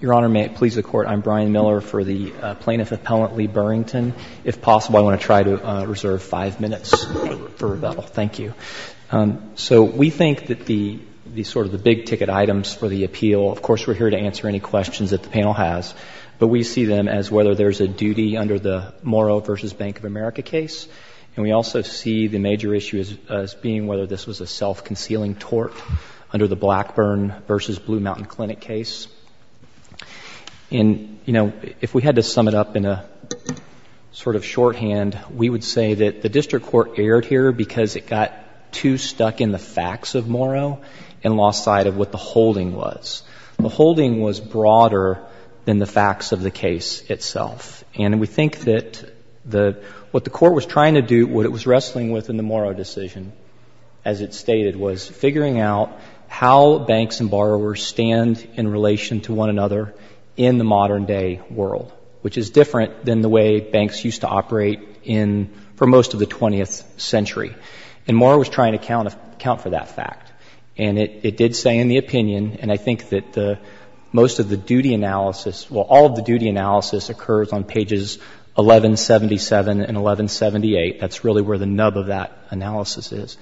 Your Honor, may it please the Court, I'm Brian Miller for the Plaintiff Appellant Lee Burrington. If possible, I want to try to reserve five minutes for rebuttal. Thank you. So we think that the sort of the big-ticket items for the appeal, of course, we're here to answer any questions that the panel has, but we see them as whether there's a duty under the Morrow v. Bank of America case, and we also see the major issue as being whether this was a self-concealing tort under the Blackburn v. Blue Mountain Clinic case. And, you know, if we had to sum it up in a sort of shorthand, we would say that the district court erred here because it got too stuck in the facts of Morrow and lost sight of what the holding was. The holding was broader than the facts of the case itself. And we think that what the court was trying to do, what it was wrestling with in the Morrow decision, as it stated, was figuring out how banks and borrowers stand in relation to one another in the modern-day world, which is different than the way banks used to operate for most of the 20th century. And Morrow was trying to account for that fact. And it did say in the opinion, and I think that most of the duty analysis, well, all of the duty analysis occurs on pages 1177 and 1178. That's really where the nub of that analysis is.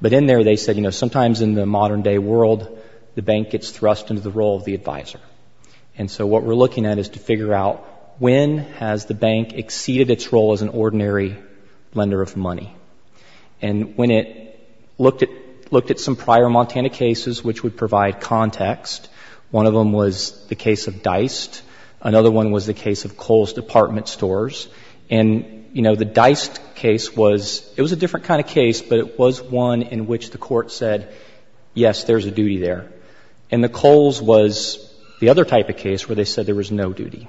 But in there they said, you know, sometimes in the modern-day world, the bank gets thrust into the role of the advisor. And so what we're looking at is to figure out when has the bank exceeded its role as an ordinary lender of money. And when it looked at some prior Montana cases which would provide context, one of them was the case of Deist. Another one was the case of Kohl's Department Stores. And, you know, the Deist case was, it was a different kind of case, but it was one in which the court said, yes, there's a duty there. And the Kohl's was the other type of case where they said there was no duty.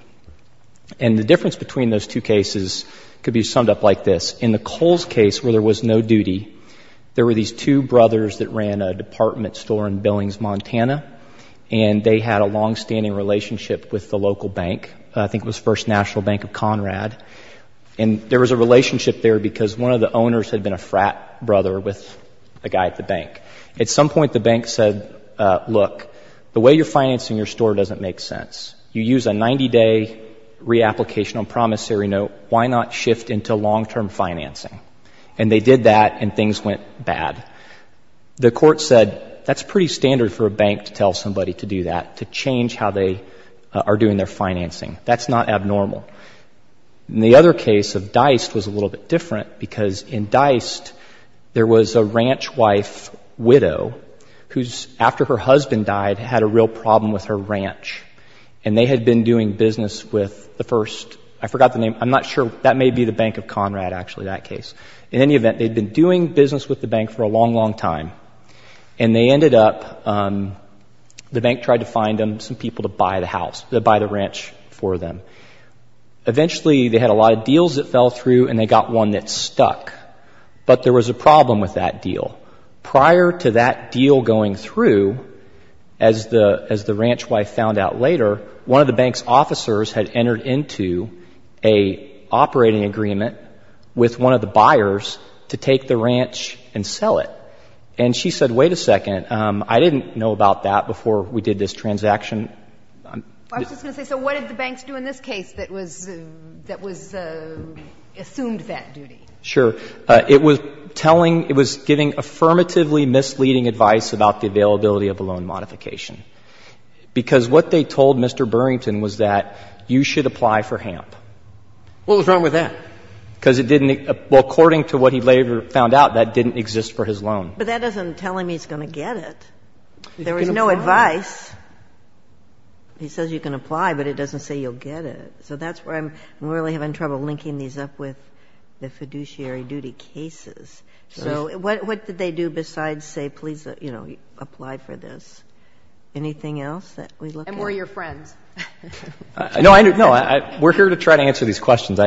And the difference between those two cases could be summed up like this. In the Kohl's case where there was no duty, there were these two brothers that ran a department store in Billings, Montana, and they had a longstanding relationship with the local bank, I think it was First National Bank of Conrad. And there was a relationship there because one of the owners had been a frat brother with a guy at the bank. At some point the bank said, look, the way you're financing your store doesn't make sense. You use a 90-day reapplication on promissory note. Why not shift into long-term financing? And they did that, and things went bad. The court said that's pretty standard for a bank to tell somebody to do that, to change how they are doing their financing. That's not abnormal. And the other case of Deist was a little bit different because in Deist there was a ranch wife widow who, after her husband died, had a real problem with her ranch, and they had been doing business with the first, I forgot the name, I'm not sure, that may be the Bank of Conrad, actually, that case. In any event, they'd been doing business with the bank for a long, long time, and they ended up, the bank tried to find them some people to buy the house, to buy the ranch for them. Eventually they had a lot of deals that fell through, and they got one that stuck. But there was a problem with that deal. Prior to that deal going through, as the ranch wife found out later, one of the bank's officers had entered into an operating agreement with one of the buyers to take the ranch and sell it. And she said, wait a second, I didn't know about that before we did this transaction. I'm just going to say, so what did the banks do in this case that was assumed that duty? Sure. It was telling, it was giving affirmatively misleading advice about the availability of a loan modification. Because what they told Mr. Burrington was that you should apply for HAMP. What was wrong with that? Because it didn't, well, according to what he later found out, that didn't exist for his loan. But that doesn't tell him he's going to get it. There was no advice. He says you can apply, but it doesn't say you'll get it. So that's where I'm really having trouble linking these up with the fiduciary duty cases. So what did they do besides say, please, you know, apply for this? Anything else that we look at? And were your friends. No, we're here to try to answer these questions.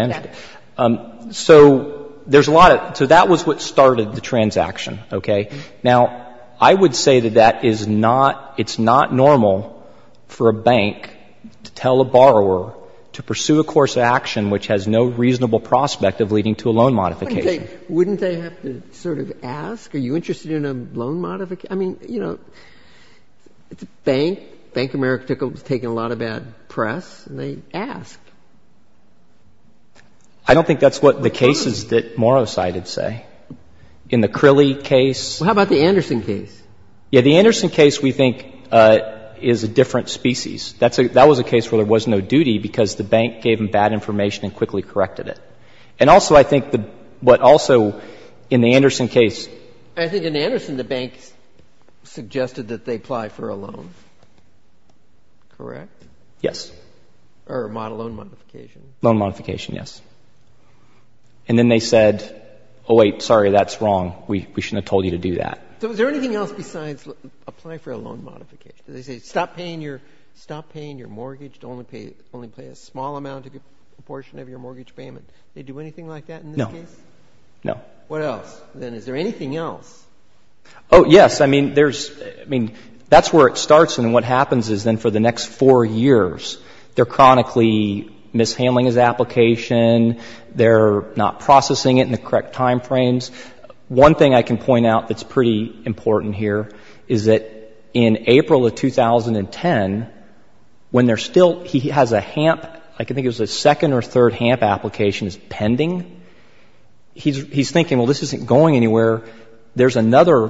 So there's a lot of, so that was what started the transaction, okay? Now, I would say that that is not, it's not normal for a bank to tell a borrower to pursue a course of action which has no reasonable prospect of leading to a loan modification. Wouldn't they have to sort of ask? Are you interested in a loan modification? I mean, you know, it's a bank. Bank of America has taken a lot of bad press, and they ask. I don't think that's what the cases that Morosited say. In the Crilly case. Well, how about the Anderson case? Yeah, the Anderson case we think is a different species. That was a case where there was no duty because the bank gave them bad information and quickly corrected it. And also I think what also in the Anderson case. I think in Anderson the bank suggested that they apply for a loan, correct? Yes. Or a loan modification. Loan modification, yes. And then they said, oh, wait, sorry, that's wrong. We shouldn't have told you to do that. So is there anything else besides apply for a loan modification? They say stop paying your mortgage, only pay a small amount, a good portion of your mortgage payment. They do anything like that in this case? No. No. What else? Then is there anything else? Oh, yes. I mean, there's, I mean, that's where it starts. And what happens is then for the next four years, they're chronically mishandling his application. They're not processing it in the correct time frames. One thing I can point out that's pretty important here is that in April of 2010, when they're still, he has a HAMP, I think it was a second or third HAMP application that's pending. He's thinking, well, this isn't going anywhere. There's another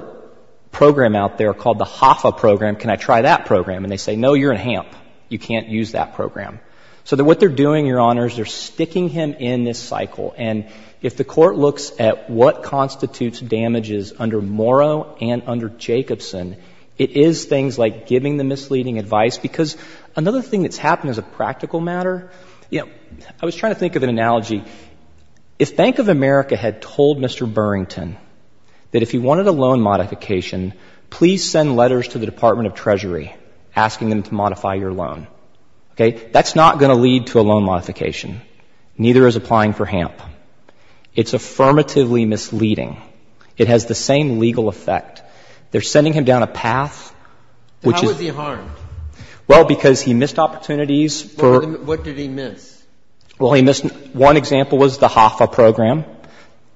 program out there called the HAFA program. Can I try that program? And they say, no, you're in HAMP. You can't use that program. So what they're doing, Your Honors, they're sticking him in this cycle. And if the Court looks at what constitutes damages under Morrow and under Jacobson, it is things like giving the misleading advice because another thing that's happened as a practical matter, you know, I was trying to think of an analogy. If Bank of America had told Mr. Burrington that if he wanted a loan modification, please send letters to the Department of Treasury asking them to modify your loan, okay, that's not going to lead to a loan modification. Neither is applying for HAMP. It's affirmatively misleading. It has the same legal effect. They're sending him down a path which is — How was he harmed? Well, because he missed opportunities for — What did he miss? Well, he missed — one example was the HAFA program.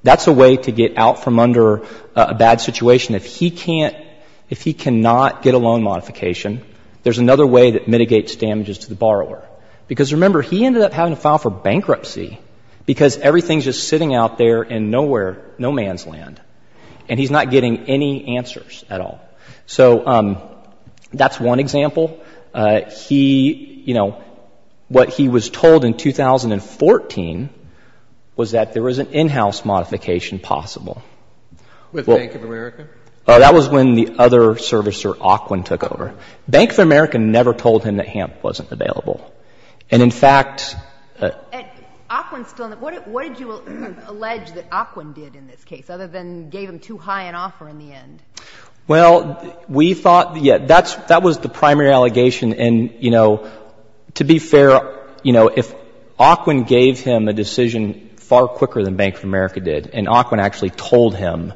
That's a way to get out from under a bad situation. If he can't — if he cannot get a loan modification, there's another way that mitigates damages to the borrower. Because remember, he ended up having to file for bankruptcy because everything's just sitting out there in nowhere, no man's land, and he's not getting any answers at all. So that's one example. He — you know, what he was told in 2014 was that there was an in-house modification possible. With Bank of America? That was when the other servicer, Aquin, took over. Bank of America never told him that HAMP wasn't available. And in fact — Aquin's still in the — what did you allege that Aquin did in this case, other than gave him too high an offer in the end? Well, we thought — yeah, that's — that was the primary allegation. And, you know, to be fair, you know, if Aquin gave him a decision far quicker than Bank of America did, and Aquin actually told him,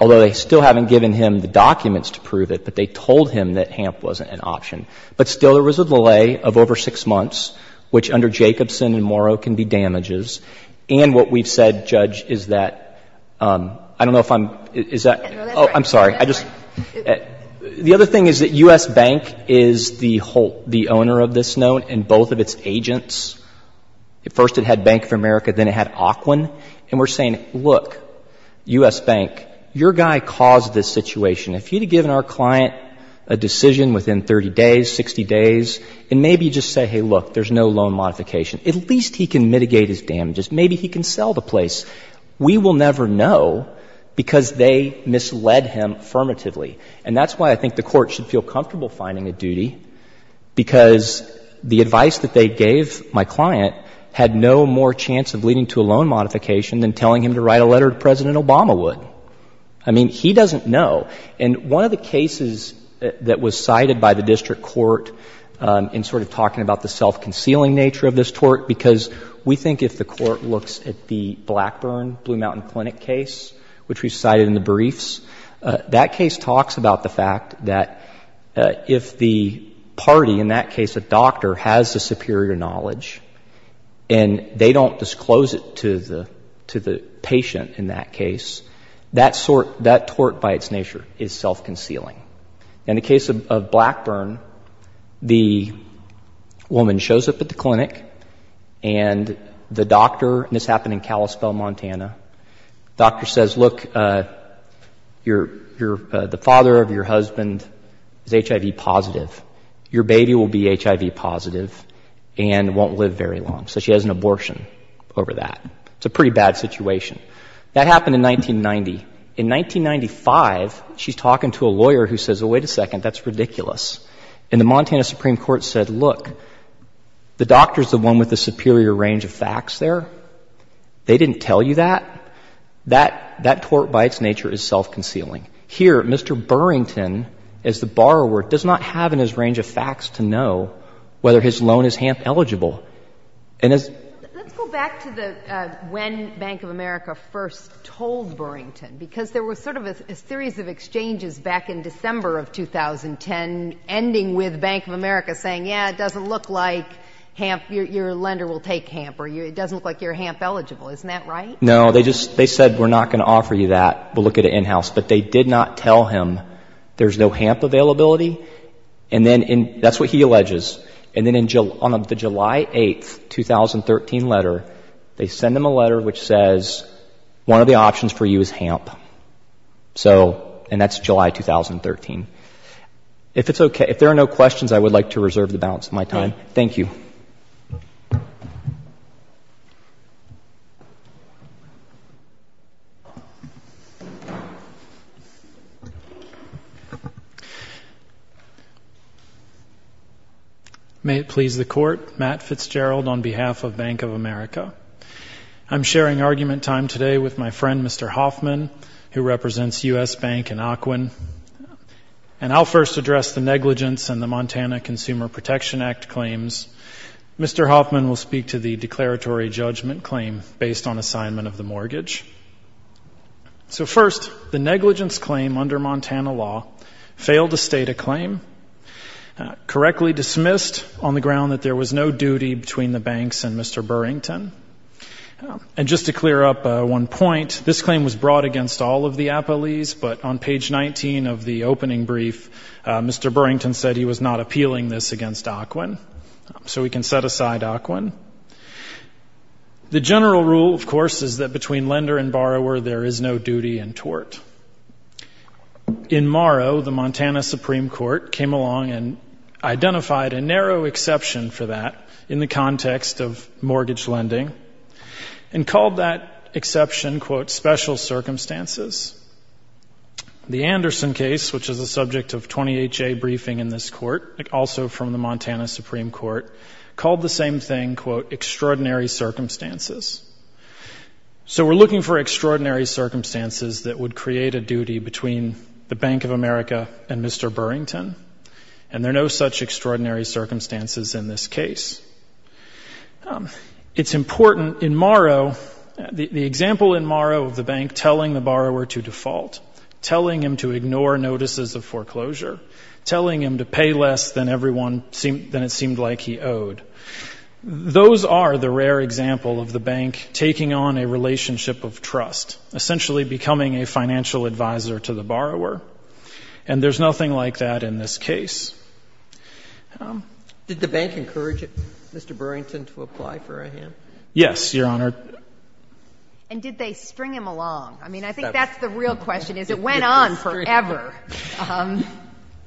although they still haven't given him the documents to prove it, but they told him that HAMP wasn't an option. But still there was a delay of over six months, which under Jacobson and Morrow can be damages. And what we've said, Judge, is that — I don't know if I'm — is that — Oh, I'm sorry. I just — the other thing is that U.S. Bank is the owner of this note and both of its agents. First it had Bank of America. Then it had Aquin. And we're saying, look, U.S. Bank, your guy caused this situation. If you'd have given our client a decision within 30 days, 60 days, and maybe just say, hey, look, there's no loan modification, at least he can mitigate his damages. Maybe he can sell the place. We will never know because they misled him affirmatively. And that's why I think the Court should feel comfortable finding a duty, because the advice that they gave my client had no more chance of leading to a loan modification than telling him to write a letter to President Obama would. I mean, he doesn't know. And one of the cases that was cited by the district court in sort of talking about the self-concealing nature of this tort, because we think if the Court looks at the Blackburn Blue Mountain Clinic case, which we cited in the briefs, that case talks about the fact that if the party, in that case a doctor, has the superior knowledge and they don't disclose it to the patient in that case, that tort by its nature is self-concealing. In the case of Blackburn, the woman shows up at the clinic and the doctor, and this happened in Kalispell, Montana, the doctor says, look, the father of your husband is HIV positive. Your baby will be HIV positive and won't live very long. So she has an abortion over that. It's a pretty bad situation. That happened in 1990. In 1995, she's talking to a lawyer who says, oh, wait a second, that's ridiculous. And the Montana Supreme Court said, look, the doctor is the one with the superior range of facts there. They didn't tell you that. That tort by its nature is self-concealing. Here, Mr. Burrington, as the borrower, does not have in his range of facts to know whether his loan is HAMP eligible. Let's go back to when Bank of America first told Burrington. Because there was sort of a series of exchanges back in December of 2010, ending with Bank of America saying, yeah, it doesn't look like HAMP, your lender will take HAMP, or it doesn't look like you're HAMP eligible. Isn't that right? No. They said we're not going to offer you that. We'll look at it in-house. But they did not tell him there's no HAMP availability. And that's what he alleges. And then on the July 8, 2013 letter, they send him a letter which says one of the options for you is HAMP. So, and that's July 2013. If it's okay, if there are no questions, I would like to reserve the balance of my time. Thank you. May it please the Court. Matt Fitzgerald on behalf of Bank of America. I'm sharing argument time today with my friend, Mr. Hoffman, who represents U.S. Bank in Occoquan. And I'll first address the negligence in the Montana Consumer Protection Act claims. Mr. Hoffman will speak to the declaratory judgment claim based on assignment of the mortgage. So, first, the negligence claim under Montana law failed to state a claim, correctly dismissed on the ground that there was no duty between the banks and Mr. Burrington. And just to clear up one point, this claim was brought against all of the appellees, but on page 19 of the opening brief, Mr. Burrington said he was not appealing this against Occoquan. So we can set aside Occoquan. The general rule, of course, is that between lender and borrower, there is no duty and tort. In Morrow, the Montana Supreme Court came along and identified a narrow exception for that in the context of mortgage lending and called that exception, quote, special circumstances. The Anderson case, which is a subject of 20HA briefing in this court, also from the Montana Supreme Court, called the same thing, quote, extraordinary circumstances. So we're looking for extraordinary circumstances that would create a duty between the Bank of America and Mr. Burrington, and there are no such extraordinary circumstances in this case. It's important, in Morrow, the example in Morrow of the bank telling the borrower to default, telling him to ignore notices of foreclosure, telling him to pay less than it seemed like he owed, those are the rare example of the bank taking on a relationship of trust, essentially becoming a financial advisor to the borrower, and there's nothing like that in this case. Did the bank encourage Mr. Burrington to apply for a hand? Yes, Your Honor. And did they string him along? I mean, I think that's the real question, is it went on forever.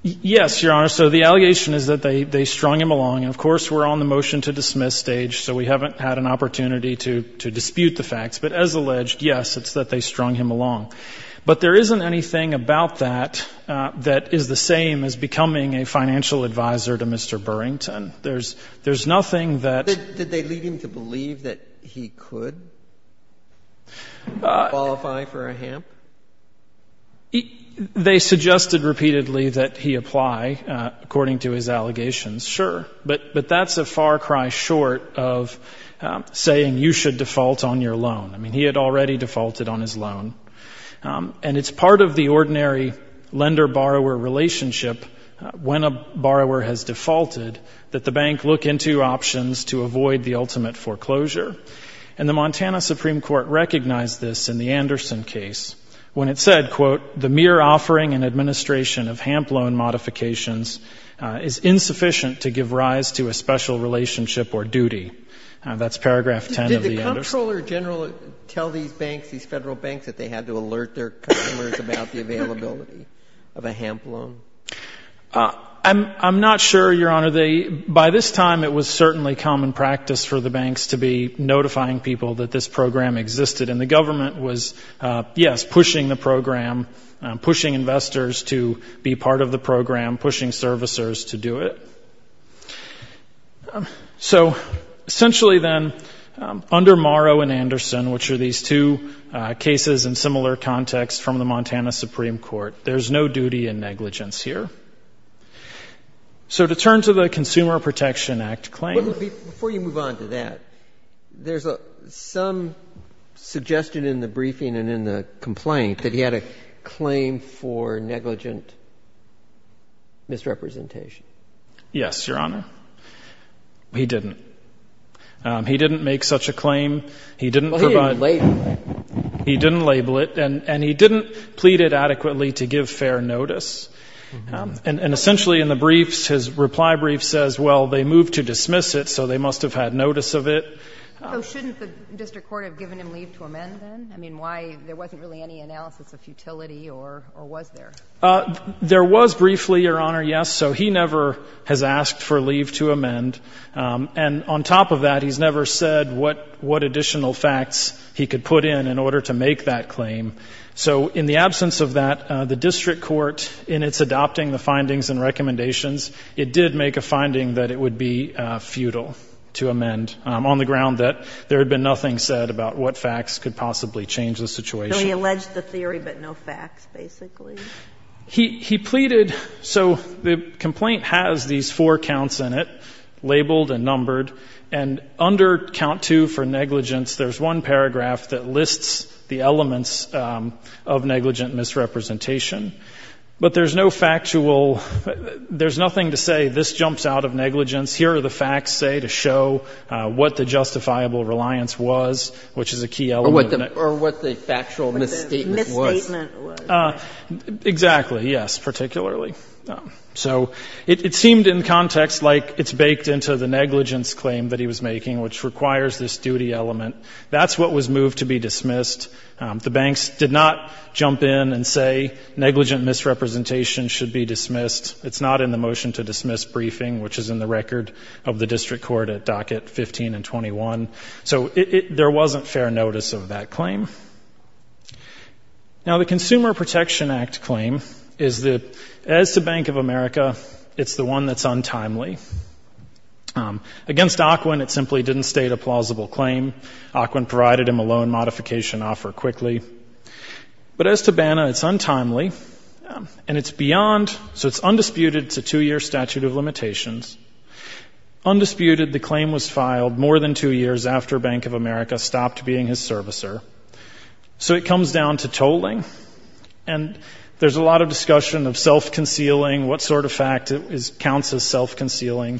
Yes, Your Honor. So the allegation is that they strung him along, and, of course, we're on the motion to dismiss stage, so we haven't had an opportunity to dispute the facts. But as alleged, yes, it's that they strung him along. But there isn't anything about that that is the same as becoming a financial advisor to Mr. Burrington. There's nothing that ---- Did they lead him to believe that he could qualify for a HAMP? They suggested repeatedly that he apply, according to his allegations, sure. But that's a far cry short of saying you should default on your loan. I mean, he had already defaulted on his loan. And it's part of the ordinary lender-borrower relationship, when a borrower has defaulted, that the bank look into options to avoid the ultimate foreclosure. And the Montana Supreme Court recognized this in the Anderson case when it said, quote, The mere offering and administration of HAMP loan modifications is insufficient to give rise to a special relationship or duty. That's paragraph 10 of the Anderson. Did the Comptroller General tell these banks, these Federal banks, that they had to alert their customers about the availability of a HAMP loan? I'm not sure, Your Honor. By this time, it was certainly common practice for the banks to be notifying people that this program existed. And the government was, yes, pushing the program, pushing investors to be part of the program, pushing servicers to do it. So essentially then, under Morrow and Anderson, which are these two cases in similar context from the Montana Supreme Court, there's no duty in negligence here. So to turn to the Consumer Protection Act claim. But before you move on to that, there's some suggestion in the briefing and in the complaint that he had a claim for negligent misrepresentation. Yes, Your Honor. He didn't. He didn't make such a claim. He didn't provide. Well, he didn't label it. He didn't label it. And he didn't plead it adequately to give fair notice. And essentially in the briefs, his reply brief says, well, they moved to dismiss it, so they must have had notice of it. So shouldn't the district court have given him leave to amend then? I mean, why? There wasn't really any analysis of futility or was there? There was briefly, Your Honor, yes. So he never has asked for leave to amend. And on top of that, he's never said what additional facts he could put in in order to make that claim. So in the absence of that, the district court, in its adopting the findings and recommendations, it did make a finding that it would be futile to amend on the ground that there had been nothing said about what facts could possibly change the situation. So he alleged the theory but no facts, basically? He pleaded. So the complaint has these four counts in it, labeled and numbered. And under count two for negligence, there's one paragraph that lists the elements of negligent misrepresentation. But there's no factual — there's nothing to say this jumps out of negligence. Here are the facts, say, to show what the justifiable reliance was, which is a key element. Or what the factual misstatement was. Misstatement was. Exactly, yes, particularly. So it seemed in context like it's baked into the negligence claim that he was making, which requires this duty element. That's what was moved to be dismissed. The banks did not jump in and say negligent misrepresentation should be dismissed. It's not in the motion to dismiss briefing, which is in the record of the district court at docket 15 and 21. So there wasn't fair notice of that claim. Now, the Consumer Protection Act claim is that as to Bank of America, it's the one that's untimely. Against Ocwen, it simply didn't state a plausible claim. Ocwen provided him a loan modification offer quickly. But as to Banna, it's untimely. And it's beyond — so it's undisputed, it's a two-year statute of limitations. Undisputed, the claim was filed more than two years after Bank of America stopped being his servicer. So it comes down to tolling. And there's a lot of discussion of self-concealing, what sort of fact counts as self-concealing.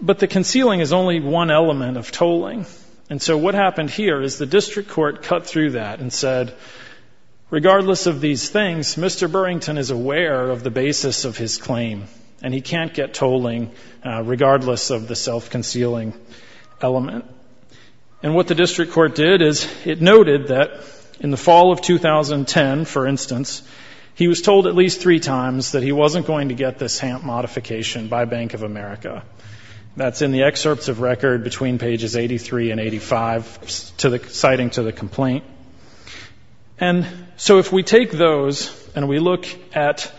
But the concealing is only one element of tolling. And so what happened here is the district court cut through that and said, regardless of these things, Mr. Burrington is aware of the basis of his claim, and he can't get tolling regardless of the self-concealing element. And what the district court did is it noted that in the fall of 2010, for instance, he was told at least three times that he wasn't going to get this HAMP modification by Bank of America. That's in the excerpts of record between pages 83 and 85 citing to the complaint. And so if we take those and we look at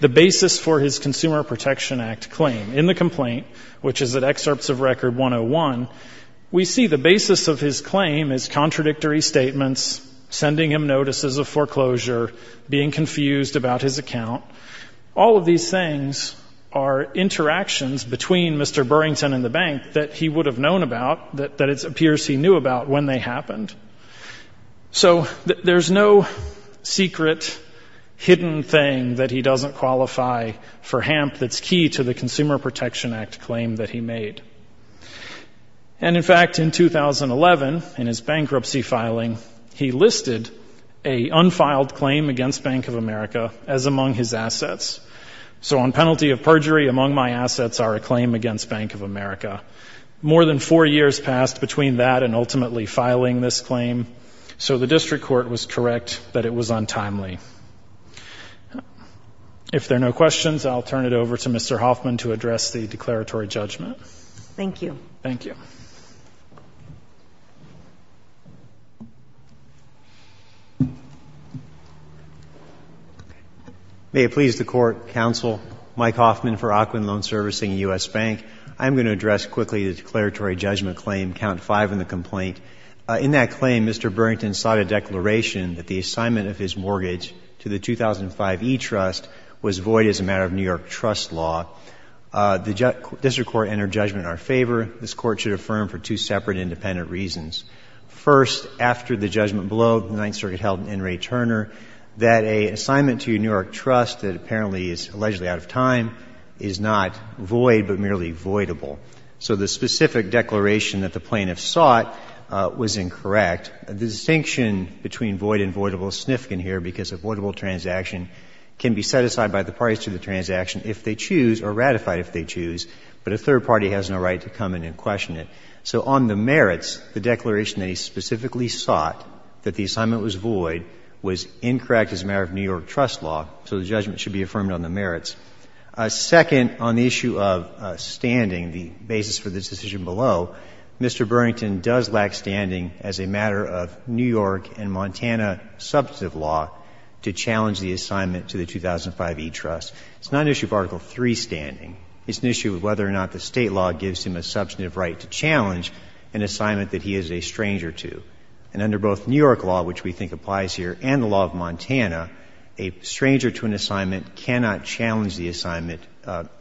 the basis for his Consumer Protection Act claim in the complaint, which is at excerpts of record 101, we see the basis of his claim is contradictory statements, sending him notices of foreclosure, being confused about his account. All of these things are interactions between Mr. Burrington and the bank that he would have known about, that it appears he knew about when they happened. So there's no secret, hidden thing that he doesn't qualify for HAMP that's key to the Consumer Protection Act claim that he made. And, in fact, in 2011, in his bankruptcy filing, he listed a unfiled claim against Bank of America as among his assets. So on penalty of perjury, among my assets are a claim against Bank of America. More than four years passed between that and ultimately filing this claim, so the district court was correct that it was untimely. If there are no questions, I'll turn it over to Mr. Hoffman to address the declaratory judgment. Thank you. Thank you. May it please the Court, Counsel, Mike Hoffman for Aquin Loan Servicing U.S. Bank. I'm going to address quickly the declaratory judgment claim, count five in the complaint. In that claim, Mr. Burrington sought a declaration that the assignment of his mortgage to the 2005 E-Trust was void as a matter of New York trust law. The district court entered judgment in our favor. This Court should affirm for two separate independent reasons. First, after the judgment below, the Ninth Circuit held in Ray Turner, that an assignment to a New York trust that apparently is allegedly out of time is not void but merely voidable. So the specific declaration that the plaintiff sought was incorrect. The distinction between void and voidable is significant here because a voidable transaction can be set aside by the parties to the transaction if they choose or ratified if they choose, but a third party has no right to come in and question it. So on the merits, the declaration that he specifically sought, that the assignment was void, was incorrect as a matter of New York trust law. So the judgment should be affirmed on the merits. Second, on the issue of standing, the basis for this decision below, Mr. Burrington does lack standing as a matter of New York and Montana substantive law to challenge the assignment to the 2005 E-Trust. It's not an issue of Article III standing. It's an issue of whether or not the State law gives him a substantive right to challenge an assignment that he is a stranger to. And under both New York law, which we think applies here, and the law of Montana, a stranger to an assignment cannot challenge the assignment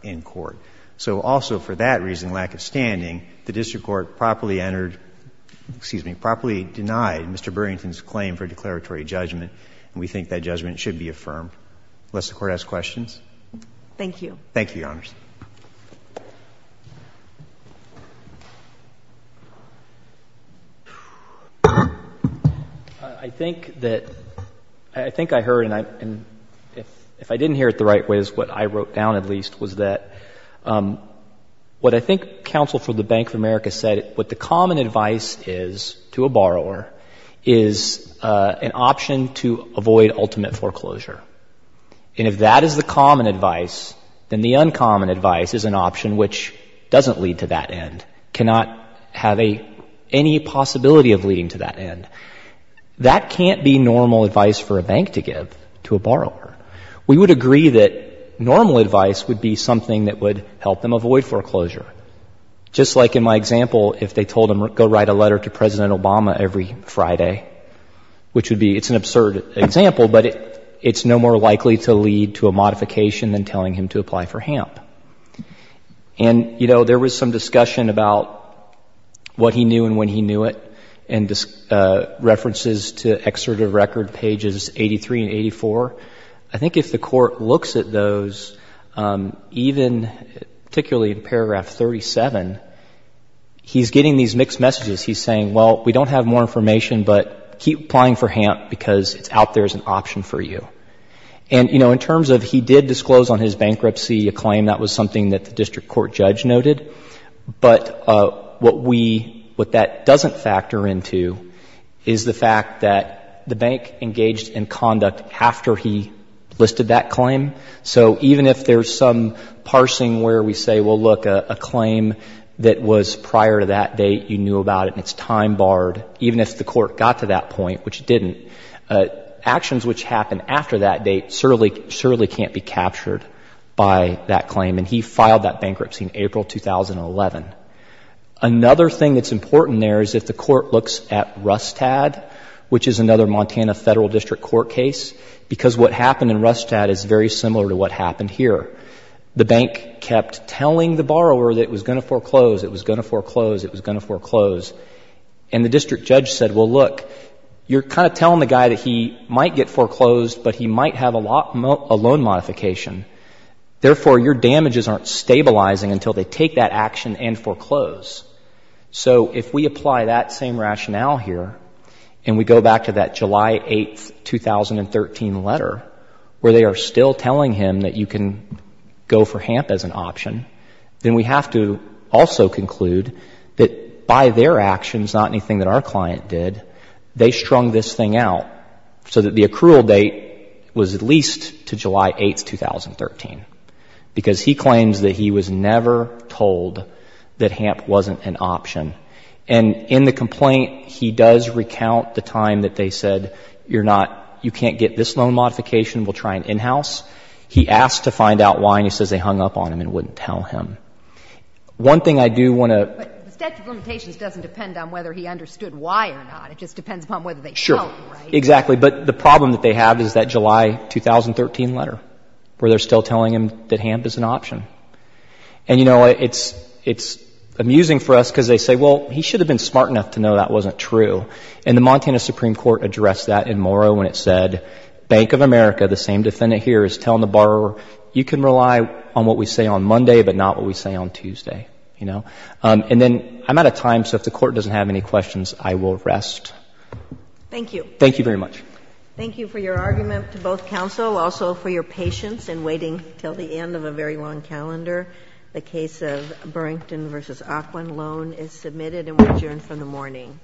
in court. So also for that reason, lack of standing, the district court properly entered — excuse me, properly denied Mr. Burrington's claim for declaratory judgment, and we think that judgment should be affirmed. Unless the Court has questions. Thank you. Thank you, Your Honors. I think that — I think I heard, and if I didn't hear it the right way, what I wrote down at least was that what I think counsel for the Bank of America said, what the common advice is to a borrower is an option to avoid ultimate foreclosure. And if that is the common advice, then the uncommon advice is an option which doesn't lead to that end, cannot have any possibility of leading to that end. That can't be normal advice for a bank to give to a borrower. We would agree that normal advice would be something that would help them avoid foreclosure. Just like in my example, if they told him go write a letter to President Obama every Friday, which would be — it's an absurd example, but it's no more likely to lead to a modification than telling him to apply for HAMP. And, you know, there was some discussion about what he knew and when he knew it, references to excerpt of record pages 83 and 84. I think if the Court looks at those, even particularly in paragraph 37, he's getting these mixed messages. He's saying, well, we don't have more information, but keep applying for HAMP because it's out there as an option for you. And, you know, in terms of he did disclose on his bankruptcy a claim, that was something that the district court judge noted. But what we — what that doesn't factor into is the fact that the bank engaged in conduct after he listed that claim. So even if there's some parsing where we say, well, look, a claim that was prior to that date, you knew about it, and it's time barred, even if the Court got to that point, which it didn't, actions which happened after that date certainly can't be captured by that claim. And he filed that bankruptcy in April 2011. Another thing that's important there is if the Court looks at Rustad, which is another Montana Federal District Court case, because what happened in Rustad is very similar to what happened here. The bank kept telling the borrower that it was going to foreclose, it was going to foreclose, it was going to foreclose. And the district judge said, well, look, you're kind of telling the guy that he might get foreclosed, but he might have a loan modification. Therefore, your damages aren't stabilizing until they take that action and foreclose. So if we apply that same rationale here, and we go back to that July 8, 2013 letter, where they are still telling him that you can go for HAMP as an option, then we have to also conclude that by their actions, not anything that our client did, they strung this thing out so that the accrual date was at least to July 8, 2013, because he claims that he was never told that HAMP wasn't an option. And in the complaint, he does recount the time that they said, you're not, you can't get this loan modification, we'll try an in-house. He asked to find out why, and he says they hung up on him and wouldn't tell him. One thing I do want to ---- But the statute of limitations doesn't depend on whether he understood why or not. It just depends upon whether they showed him, right? Sure. Exactly. But the problem that they have is that July 2013 letter, where they're still telling him that HAMP is an option. And, you know, it's amusing for us because they say, well, he should have been smart enough to know that wasn't true. And the Montana Supreme Court addressed that in Morrow when it said, Bank of America, the same defendant here, is telling the borrower, you can rely on what we say on Monday, but not what we say on Tuesday, you know. And then I'm out of time, so if the Court doesn't have any questions, I will rest. Thank you. Thank you very much. Thank you for your argument to both counsel. Also, for your patience in waiting until the end of a very long calendar, the case of Burrington v. Ocklin, loan is submitted and will adjourn for the morning. Thank you.